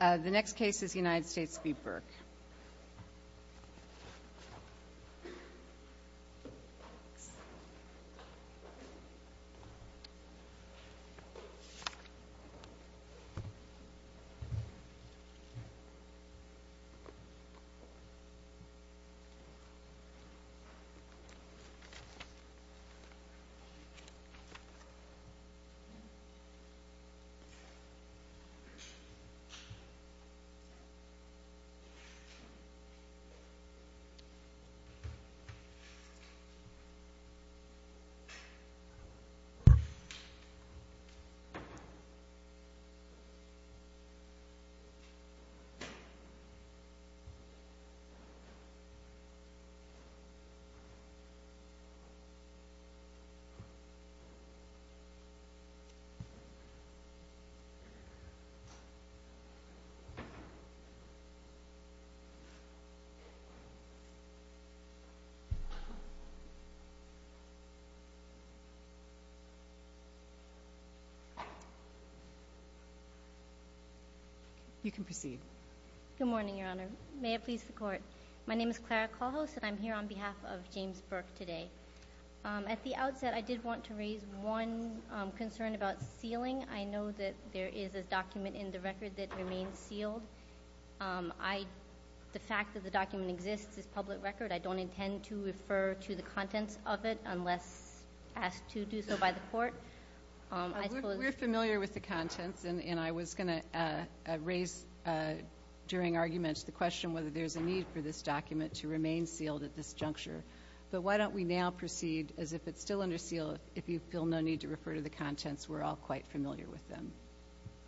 The next case is United States v. Burke. The next case is United States v. Clark. You can proceed. Good morning, Your Honor. May it please the Court, My name is Clara Callhouse, and I'm here on behalf of James Burke today. At the outset, I did want to raise one concern about sealing. I know that there is a document in the record that remains sealed. The fact that the document exists is public record. I don't intend to refer to the contents of it unless asked to do so by the Court. We're familiar with the contents, and I was going to raise during arguments the question whether there's a need for this document to remain sealed at this juncture. But why don't we now proceed as if it's still under seal? If you feel no need to refer to the contents, we're all quite familiar with them.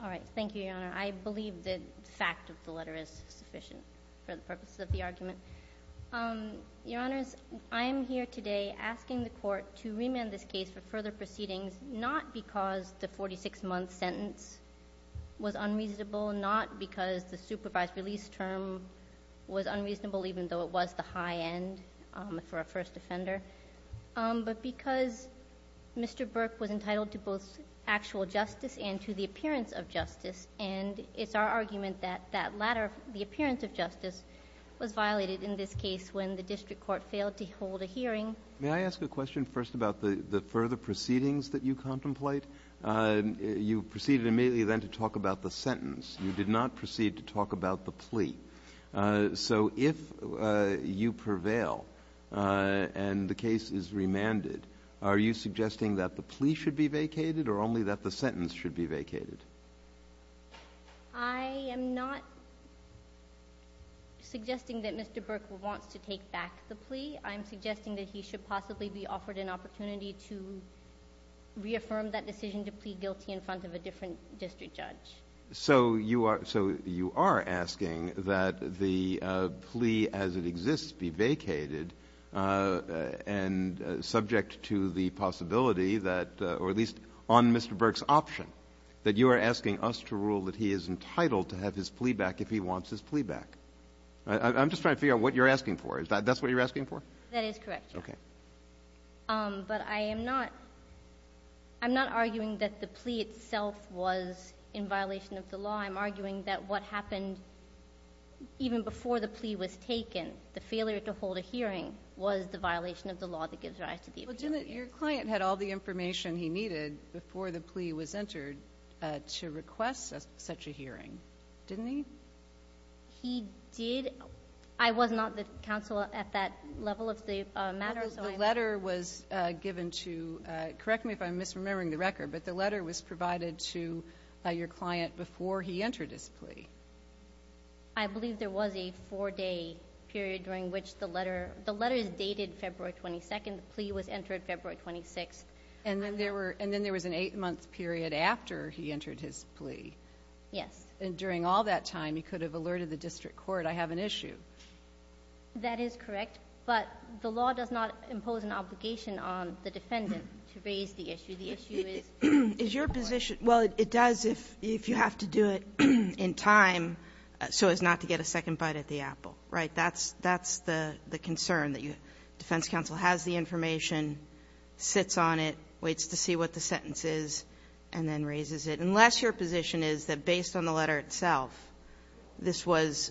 All right. Thank you, Your Honor. I believe the fact of the letter is sufficient for the purposes of the argument. Your Honors, I am here today asking the Court to remand this case for further proceedings, not because the 46-month sentence was unreasonable, not because the supervised release term was unreasonable even though it was the high end for a first offender, but because Mr. Burke was entitled to both actual justice and to the appearance of justice. And it's our argument that that latter, the appearance of justice, was violated in this case when the district court failed to hold a hearing. May I ask a question first about the further proceedings that you contemplate? You proceeded immediately then to talk about the sentence. You did not proceed to talk about the plea. So if you prevail and the case is remanded, are you suggesting that the plea should be vacated or only that the sentence should be vacated? I am not suggesting that Mr. Burke wants to take back the plea. I'm suggesting that he should possibly be offered an opportunity to reaffirm that decision to plead guilty in front of a different district judge. So you are asking that the plea as it exists be vacated and subject to the possibility that, or at least on Mr. Burke's option, that you are asking us to rule that he is entitled to have his plea back if he wants his plea back. I'm just trying to figure out what you're asking for. That's what you're asking for? That is correct, Your Honor. Okay. But I am not arguing that the plea itself was in violation of the law. I'm arguing that what happened even before the plea was taken, the failure to hold a hearing was the violation of the law that gives rise to the appeal. Well, Jim, your client had all the information he needed before the plea was entered to request such a hearing, didn't he? He did. I was not the counsel at that level of the matter. The letter was given to, correct me if I'm misremembering the record, but the letter was provided to your client before he entered his plea. I believe there was a four-day period during which the letter is dated February 22nd. The plea was entered February 26th. And then there was an eight-month period after he entered his plea. Yes. And during all that time, he could have alerted the district court, I have an issue. That is correct. But the law does not impose an obligation on the defendant to raise the issue. The issue is your position. Well, it does if you have to do it in time so as not to get a second bite at the apple. Right? That's the concern, that the defense counsel has the information, sits on it, waits to see what the sentence is, and then raises it. Unless your position is that based on the letter itself, this was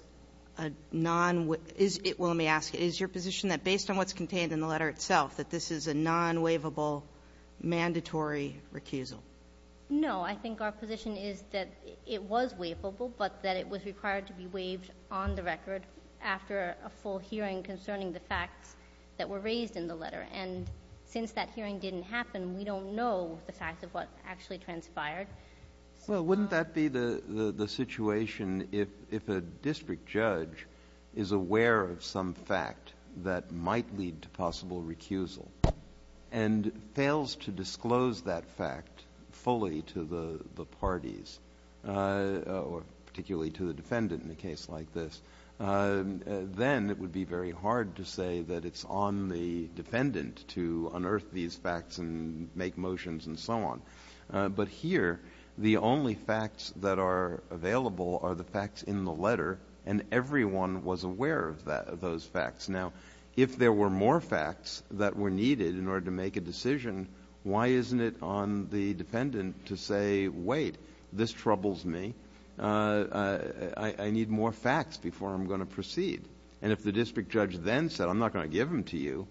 a non-waiveable Let me ask you. Is your position that based on what's contained in the letter itself, that this is a non-waivable mandatory recusal? No. I think our position is that it was waivable, but that it was required to be waived on the record after a full hearing concerning the facts that were raised in the letter. And since that hearing didn't happen, we don't know the facts of what actually transpired. Well, wouldn't that be the situation if a district judge is aware of some fact that might lead to possible recusal and fails to disclose that fact fully to the parties, or particularly to the defendant in a case like this, then it would be very hard to say that it's on the defendant to unearth these facts and make motions and so on. But here, the only facts that are available are the facts in the letter, and everyone was aware of those facts. Now, if there were more facts that were needed in order to make a decision, why isn't it on the defendant to say, wait, this troubles me. I need more facts before I'm going to proceed. And if the district judge then said, I'm not going to give them to you,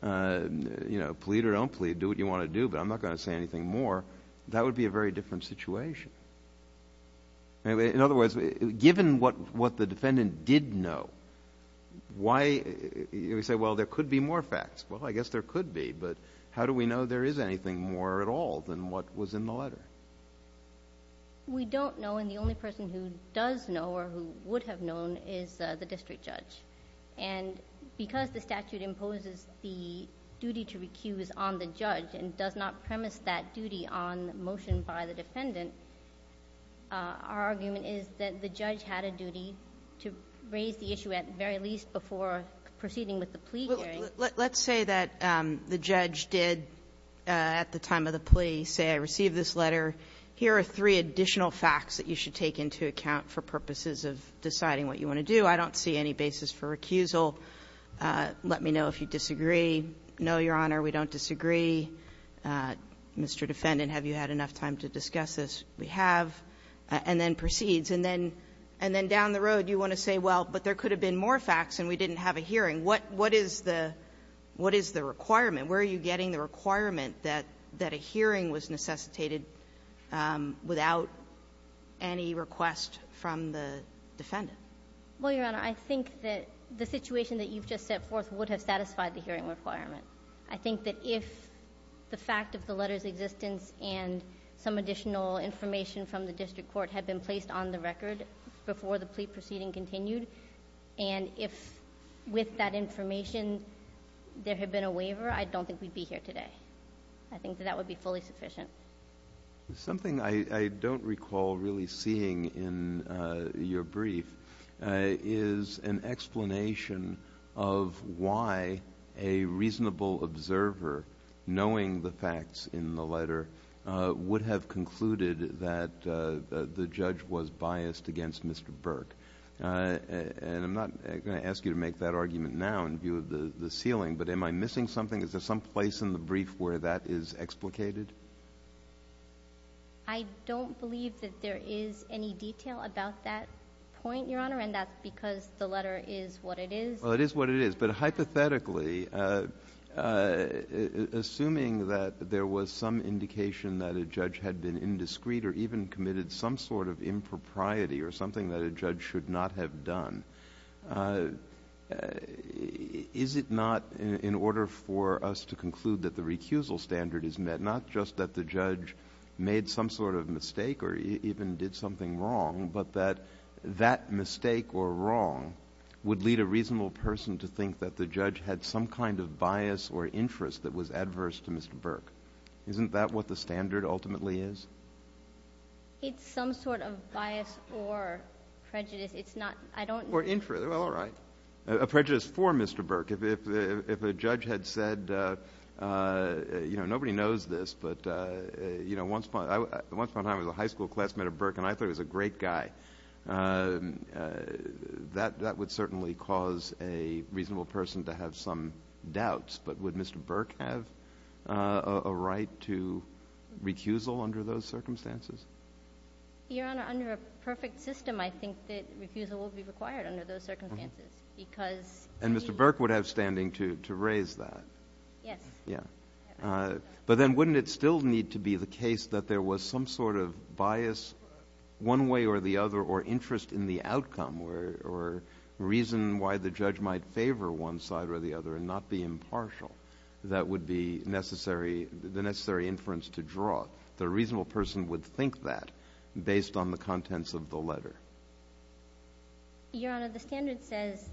plead or don't plead, do what you want to do, but I'm not going to say anything more, that would be a very different situation. In other words, given what the defendant did know, why do we say, well, there could be more facts? Well, I guess there could be, but how do we know there is anything more at all than what was in the letter? We don't know, and the only person who does know or who would have known is the district judge. And because the statute imposes the duty to recuse on the judge and does not premise that duty on motion by the defendant, our argument is that the judge had a duty to raise the issue at the very least before proceeding with the plea hearing. Kagan. Let's say that the judge did, at the time of the plea, say I received this letter. Here are three additional facts that you should take into account for purposes of deciding what you want to do. I don't see any basis for recusal. Let me know if you disagree. No, Your Honor, we don't disagree. Mr. Defendant, have you had enough time to discuss this? We have. And then proceeds. And then down the road you want to say, well, but there could have been more facts and we didn't have a hearing. What is the requirement? Where are you getting the requirement that a hearing was necessitated without any request from the defendant? Well, Your Honor, I think that the situation that you've just set forth would have satisfied the hearing requirement. I think that if the fact of the letter's existence and some additional information from the district court had been placed on the record before the plea proceeding continued, and if with that information there had been a waiver, I don't think we'd be here today. I think that that would be fully sufficient. Something I don't recall really seeing in your brief is an explanation of why a reasonable observer, knowing the facts in the letter, would have concluded that the judge was biased against Mr. Burke. And I'm not going to ask you to make that argument now in view of the ceiling, but am I missing something? Is there some place in the brief where that is explicated? I don't believe that there is any detail about that point, Your Honor, and that's because the letter is what it is. Well, it is what it is. But hypothetically, assuming that there was some indication that a judge had been indiscreet or even committed some sort of impropriety or something that a judge should not have done, is it not in order for us to conclude that the recusal standard is met, not just that the judge made some sort of mistake or even did something wrong, but that that mistake or wrong would lead a reasonable person to think that the judge had some kind of bias or interest that was adverse to Mr. Burke? Isn't that what the standard ultimately is? It's some sort of bias or prejudice. It's not. I don't know. Well, all right. A prejudice for Mr. Burke. If a judge had said, you know, nobody knows this, but, you know, once upon a time I was a high school classmate of Burke, and I thought he was a great guy, that would certainly cause a reasonable person to have some doubts. But would Mr. Burke have a right to recusal under those circumstances? Your Honor, under a perfect system, I think that recusal would be required under those circumstances. And Mr. Burke would have standing to raise that? Yes. Yeah. But then wouldn't it still need to be the case that there was some sort of bias one way or the other or interest in the outcome or reason why the judge might favor one side or the other and not be impartial? That would be the necessary inference to draw. The reasonable person would think that based on the contents of the letter. Your Honor, the standard says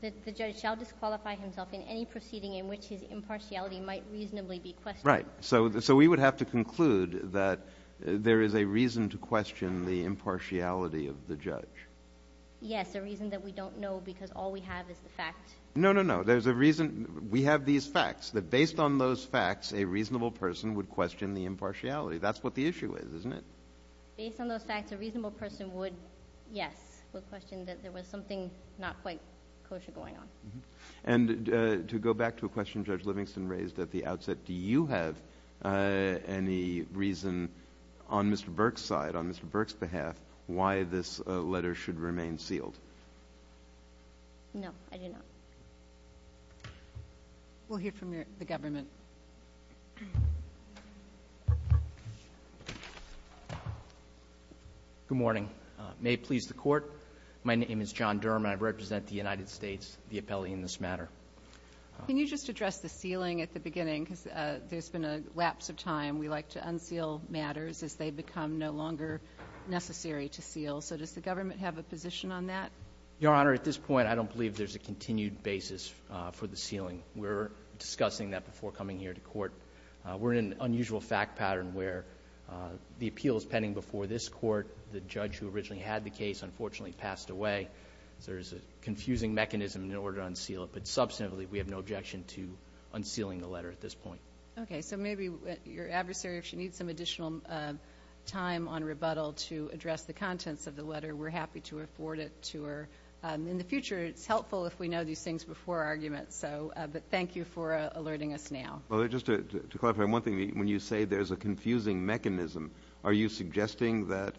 that the judge shall disqualify himself in any proceeding in which his impartiality might reasonably be questioned. Right. So we would have to conclude that there is a reason to question the impartiality of the judge. Yes, a reason that we don't know because all we have is the fact. No, no, no. There's a reason. We have these facts that based on those facts, a reasonable person would question the impartiality. That's what the issue is, isn't it? Based on those facts, a reasonable person would, yes, would question that there was something not quite kosher going on. And to go back to a question Judge Livingston raised at the outset, do you have any reason on Mr. Burke's side, on Mr. Burke's behalf, why this letter should remain sealed? No, I do not. We'll hear from the government. Good morning. May it please the Court, my name is John Durham, and I represent the United States, the appellee in this matter. Can you just address the sealing at the beginning? Because there's been a lapse of time. We like to unseal matters as they become no longer necessary to seal. So does the government have a position on that? Your Honor, at this point, I don't believe there's a continued basis for the sealing. We're discussing that before coming here to court. We're in an unusual fact pattern where the appeal is pending before this court. The judge who originally had the case unfortunately passed away. So there's a confusing mechanism in order to unseal it. But substantively, we have no objection to unsealing the letter at this point. Okay, so maybe your adversary, if she needs some additional time on rebuttal to address the contents of the letter, we're happy to afford it to her. In the future, it's helpful if we know these things before arguments. But thank you for alerting us now. Well, just to clarify one thing, when you say there's a confusing mechanism, are you suggesting that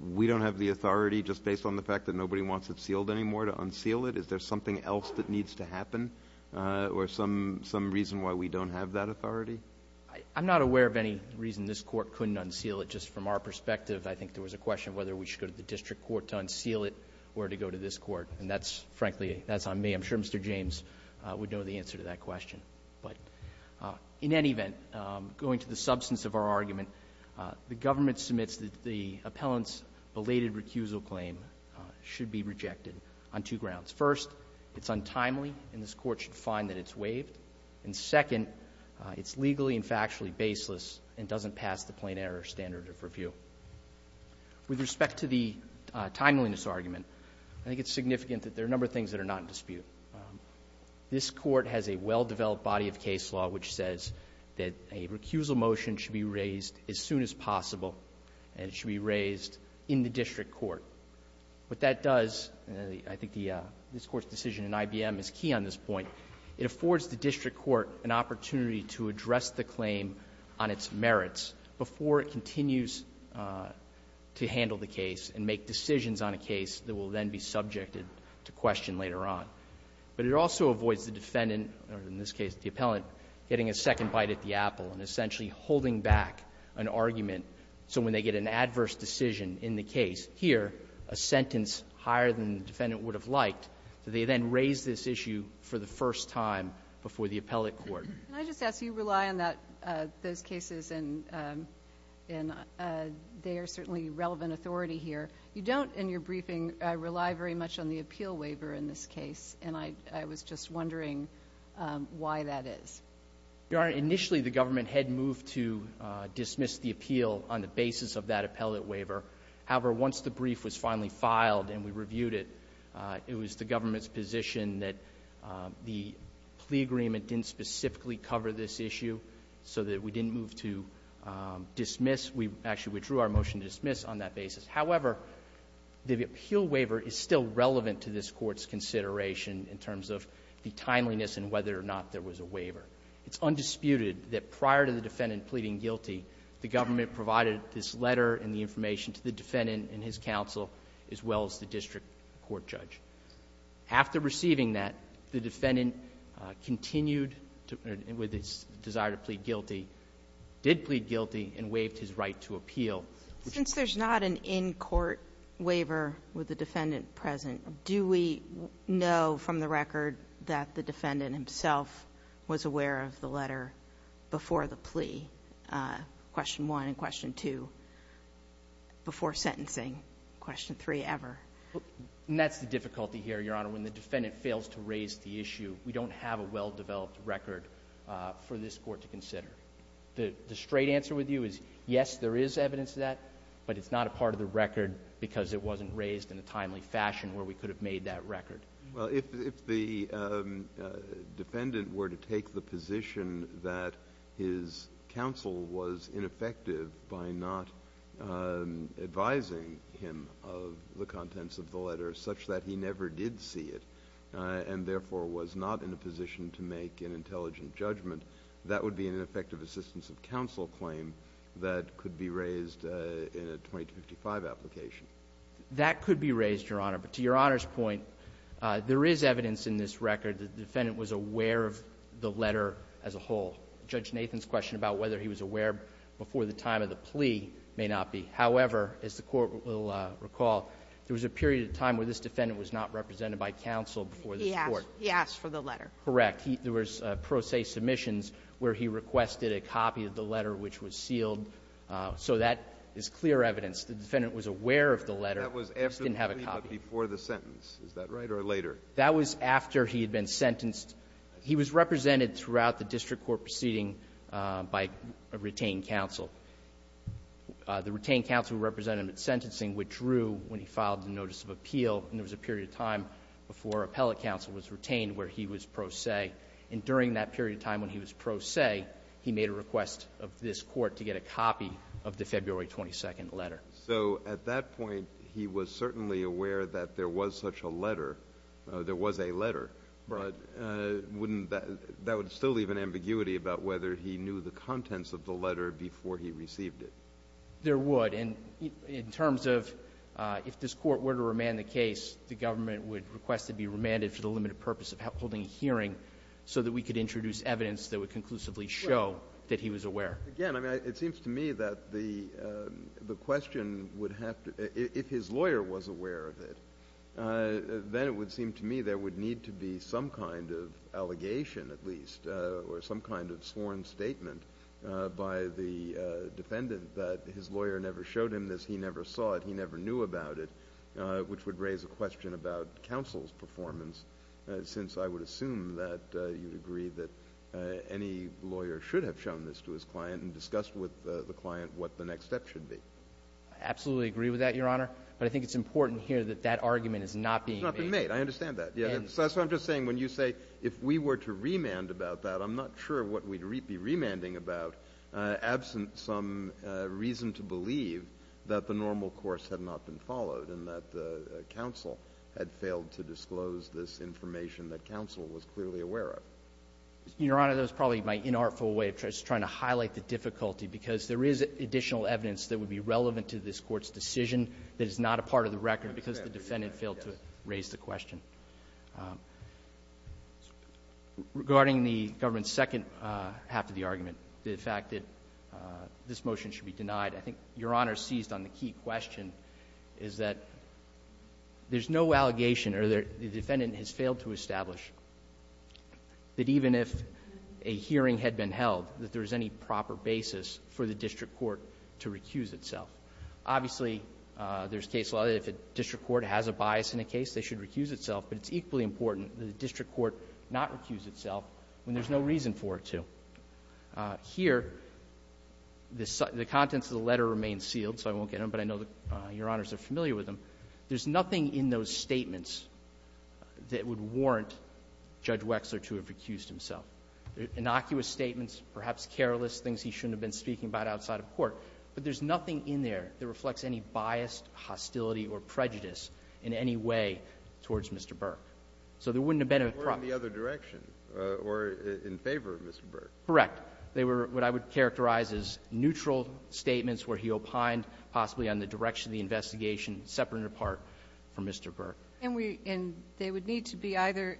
we don't have the authority just based on the fact that nobody wants it sealed anymore to unseal it? Is there something else that needs to happen or some reason why we don't have that authority? I'm not aware of any reason this Court couldn't unseal it. Just from our perspective, I think there was a question of whether we should go to the district court to unseal it or to go to this Court. And that's, frankly, that's on me. I'm sure Mr. James would know the answer to that question. But in any event, going to the substance of our argument, the government submits that the appellant's belated recusal claim should be rejected on two grounds. First, it's untimely, and this Court should find that it's waived. And second, it's legally and factually baseless and doesn't pass the plain error standard of review. With respect to the timeliness argument, I think it's significant that there are a number of things that are not in dispute. This Court has a well-developed body of case law which says that a recusal motion should be raised as soon as possible, and it should be raised in the district court. What that does, and I think this Court's decision in IBM is key on this point, it affords the district court an opportunity to address the claim on its merits before it continues to handle the case and make decisions on a case that will then be subjected to question later on. But it also avoids the defendant, or in this case the appellant, getting a second bite at the apple and essentially holding back an argument so when they get an adverse decision in the case, here, a sentence higher than the defendant would have liked, so they then raise this issue for the first time before the appellate court. Can I just ask, you rely on those cases and they are certainly relevant authority here. You don't, in your briefing, rely very much on the appeal waiver in this case, and I was just wondering why that is. Your Honor, initially the government had moved to dismiss the appeal on the basis of that appellate waiver. However, once the brief was finally filed and we reviewed it, it was the government's position that the plea agreement didn't specifically cover this issue so that we didn't move to dismiss. We actually withdrew our motion to dismiss on that basis. However, the appeal waiver is still relevant to this Court's consideration in terms of the timeliness and whether or not there was a waiver. It's undisputed that prior to the defendant pleading guilty, the government provided this letter and the information to the defendant and his counsel as well as the district court judge. After receiving that, the defendant continued with his desire to plead guilty, did plead guilty, and waived his right to appeal. Since there's not an in-court waiver with the defendant present, do we know from the record that the defendant himself was aware of the letter before the plea? Question one and question two. Before sentencing. Question three ever. And that's the difficulty here, Your Honor. When the defendant fails to raise the issue, we don't have a well-developed record for this Court to consider. The straight answer with you is yes, there is evidence of that, but it's not a part of the record because it wasn't raised in a timely fashion where we could have made that record. Well, if the defendant were to take the position that his counsel was ineffective by not advising him of the contents of the letter such that he never did see it and therefore was not in a position to make an intelligent judgment, that would be an ineffective assistance of counsel claim that could be raised in a 2255 application. That could be raised, Your Honor. But to Your Honor's point, there is evidence in this record that the defendant was aware of the letter as a whole. Judge Nathan's question about whether he was aware before the time of the plea may not be. However, as the Court will recall, there was a period of time where this defendant was not represented by counsel before this Court. He asked. He asked for the letter. Correct. There was pro se submissions where he requested a copy of the letter which was sealed. So that is clear evidence. The defendant was aware of the letter. He just didn't have a copy. That was after the plea but before the sentence. Is that right? Or later? That was after he had been sentenced. He was represented throughout the district court proceeding by a retained counsel. The retained counsel who represented him at sentencing withdrew when he filed the notice of appeal, and there was a period of time before appellate counsel was retained where he was pro se. And during that period of time when he was pro se, he made a request of this Court to get a copy of the February 22 letter. So at that point, he was certainly aware that there was such a letter or there was a letter. Right. But wouldn't that – that would still leave an ambiguity about whether he knew the contents of the letter before he received it. There would. And in terms of if this Court were to remand the case, the government would request it be remanded for the limited purpose of holding a hearing so that we could introduce evidence that would conclusively show that he was aware. Again, I mean, it seems to me that the question would have to – if his lawyer was aware of it, then it would seem to me there would need to be some kind of allegation at least or some kind of sworn statement by the defendant that his lawyer never showed him this, he never saw it, he never knew about it, which would raise a question about counsel's performance since I would assume that you'd agree that any lawyer should have shown this to his client and discussed with the client what the next step should be. I absolutely agree with that, Your Honor. But I think it's important here that that argument is not being made. It's not being made. I understand that. So that's what I'm just saying. When you say if we were to remand about that, I'm not sure what we'd be remanding about absent some reason to believe that the normal course had not been followed and that the counsel had failed to disclose this information that counsel was clearly aware of. Your Honor, that was probably my inartful way of just trying to highlight the difficulty because there is additional evidence that would be relevant to this Court's decision that is not a part of the record because the defendant failed to raise the question. Regarding the government's second half of the argument, the fact that this motion should be denied, I think Your Honor seized on the key question, is that there's no allegation or the defendant has failed to establish that even if a hearing had been held, that there is any proper basis for the district court to recuse itself. Obviously, there's case law that if a district court has a bias in a case, they should recuse itself. But it's equally important that the district court not recuse itself when there's no reason for it to. Here, the contents of the letter remain sealed, so I won't get into them, but I know Your Honors are familiar with them. There's nothing in those statements that would warrant Judge Wexler to have recused himself, innocuous statements, perhaps careless things he shouldn't have been speaking about outside of court. But there's nothing in there that reflects any biased hostility or prejudice in any way towards Mr. Burke. So there wouldn't have been a problem. Breyer, in the other direction, or in favor of Mr. Burke. Correct. They were what I would characterize as neutral statements where he opined possibly on the direction of the investigation, separate and apart from Mr. Burke. And we – and they would need to be either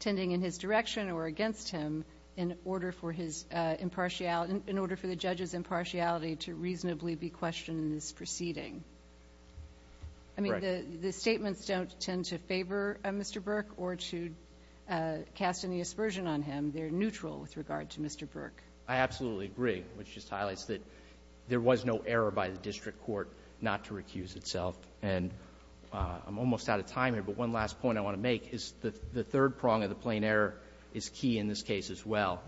tending in his direction or against him in order for his impartiality – in order for the judge's impartiality to reasonably be questioned in this proceeding. Correct. I mean, the statements don't tend to favor Mr. Burke or to cast any aspersion on him. They're neutral with regard to Mr. Burke. I absolutely agree, which just highlights that there was no error by the district court not to recuse itself. And I'm almost out of time here, but one last point I want to make is the third prong of the plain error is key in this case as well.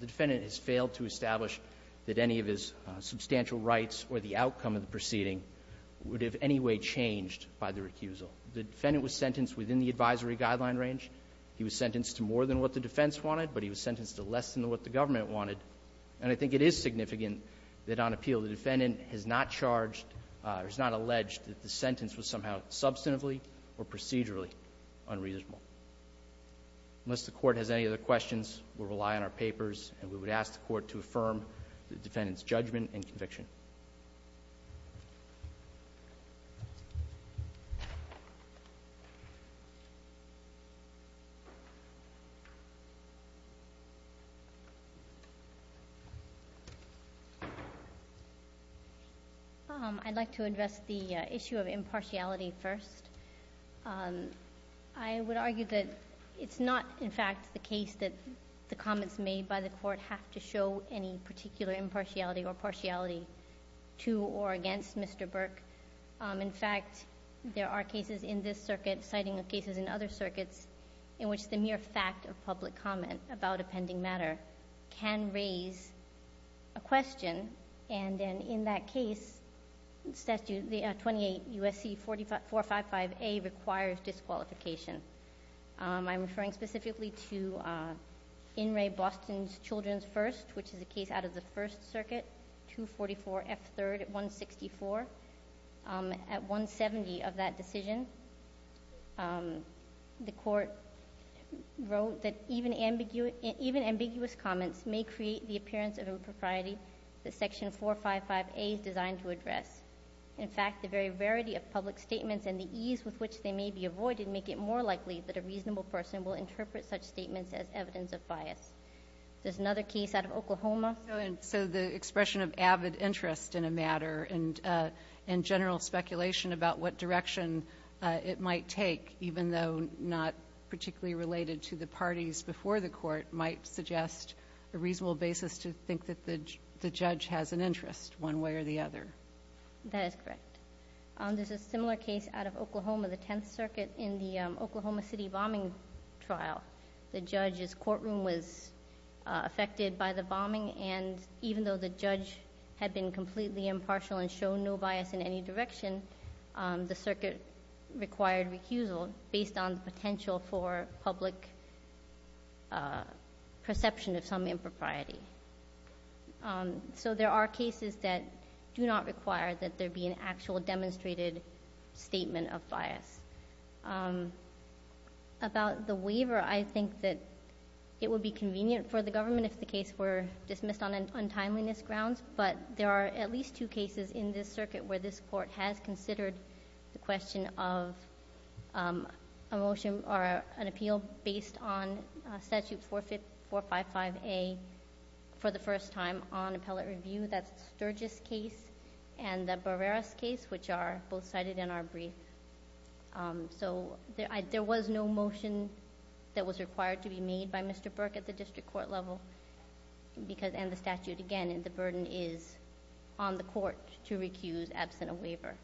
The defendant has failed to establish that any of his substantial rights or the outcome of the proceeding would have any way changed by the recusal. The defendant was sentenced within the advisory guideline range. It's still less than what the government wanted. And I think it is significant that on appeal the defendant has not charged or is not alleged that the sentence was somehow substantively or procedurally unreasonable. Unless the Court has any other questions, we'll rely on our papers, and we would ask the Court to affirm the defendant's judgment and conviction. I'd like to address the issue of impartiality first. I would argue that it's not, in fact, the case that the comments made by the Court have to show any particular impartiality or partiality to or against Mr. Burke. In fact, there are cases in this circuit, citing cases in other circuits, in which the mere fact of public comment about a pending matter can raise a question. And in that case, statute 28 U.S.C. 455A requires disqualification. I'm referring specifically to In Re. Boston's Children's First, which is a case out of the First Circuit, 244 F. 3rd at 164. At 170 of that decision, the Court wrote that even ambiguous comments may create the appearance of impropriety that section 455A is designed to address. In fact, the very rarity of public statements and the ease with which they may be avoided make it more likely that a reasonable person will interpret such statements as evidence of bias. There's another case out of Oklahoma. And so the expression of avid interest in a matter and general speculation about what direction it might take, even though not particularly related to the parties before the Court, might suggest a reasonable basis to think that the judge has an interest one way or the other. That is correct. There's a similar case out of Oklahoma, the Tenth Circuit, in the Oklahoma City bombing trial. The judge's courtroom was affected by the bombing, and even though the judge had been completely impartial and shown no bias in any direction, the circuit required recusal based on the potential for public perception of some impropriety. So there are cases that do not require that there be an actual demonstrated statement of bias. About the waiver, I think that it would be convenient for the government if the case were dismissed on untimeliness grounds, but there are at least two cases in this circuit where this Court has considered the question of a motion or an appeal based on Statute 455A for the first time on appellate review. That's the Sturgis case and the Barreras case, which are both cited in our brief. So there was no motion that was required to be made by Mr. Burke at the district court level, and the statute, again, and the burden is on the Court to recuse absent a waiver.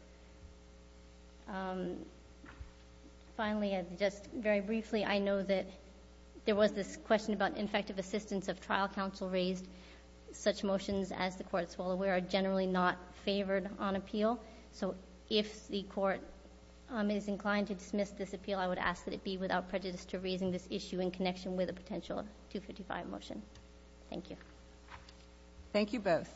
Finally, just very briefly, I know that there was this question about infective assistance of trial counsel raised. Such motions, as the Court is well aware, are generally not favored on appeal. So if the Court is inclined to dismiss this appeal, I would ask that it be without prejudice to raising this issue in connection with a potential 255 motion. Thank you. Thank you both.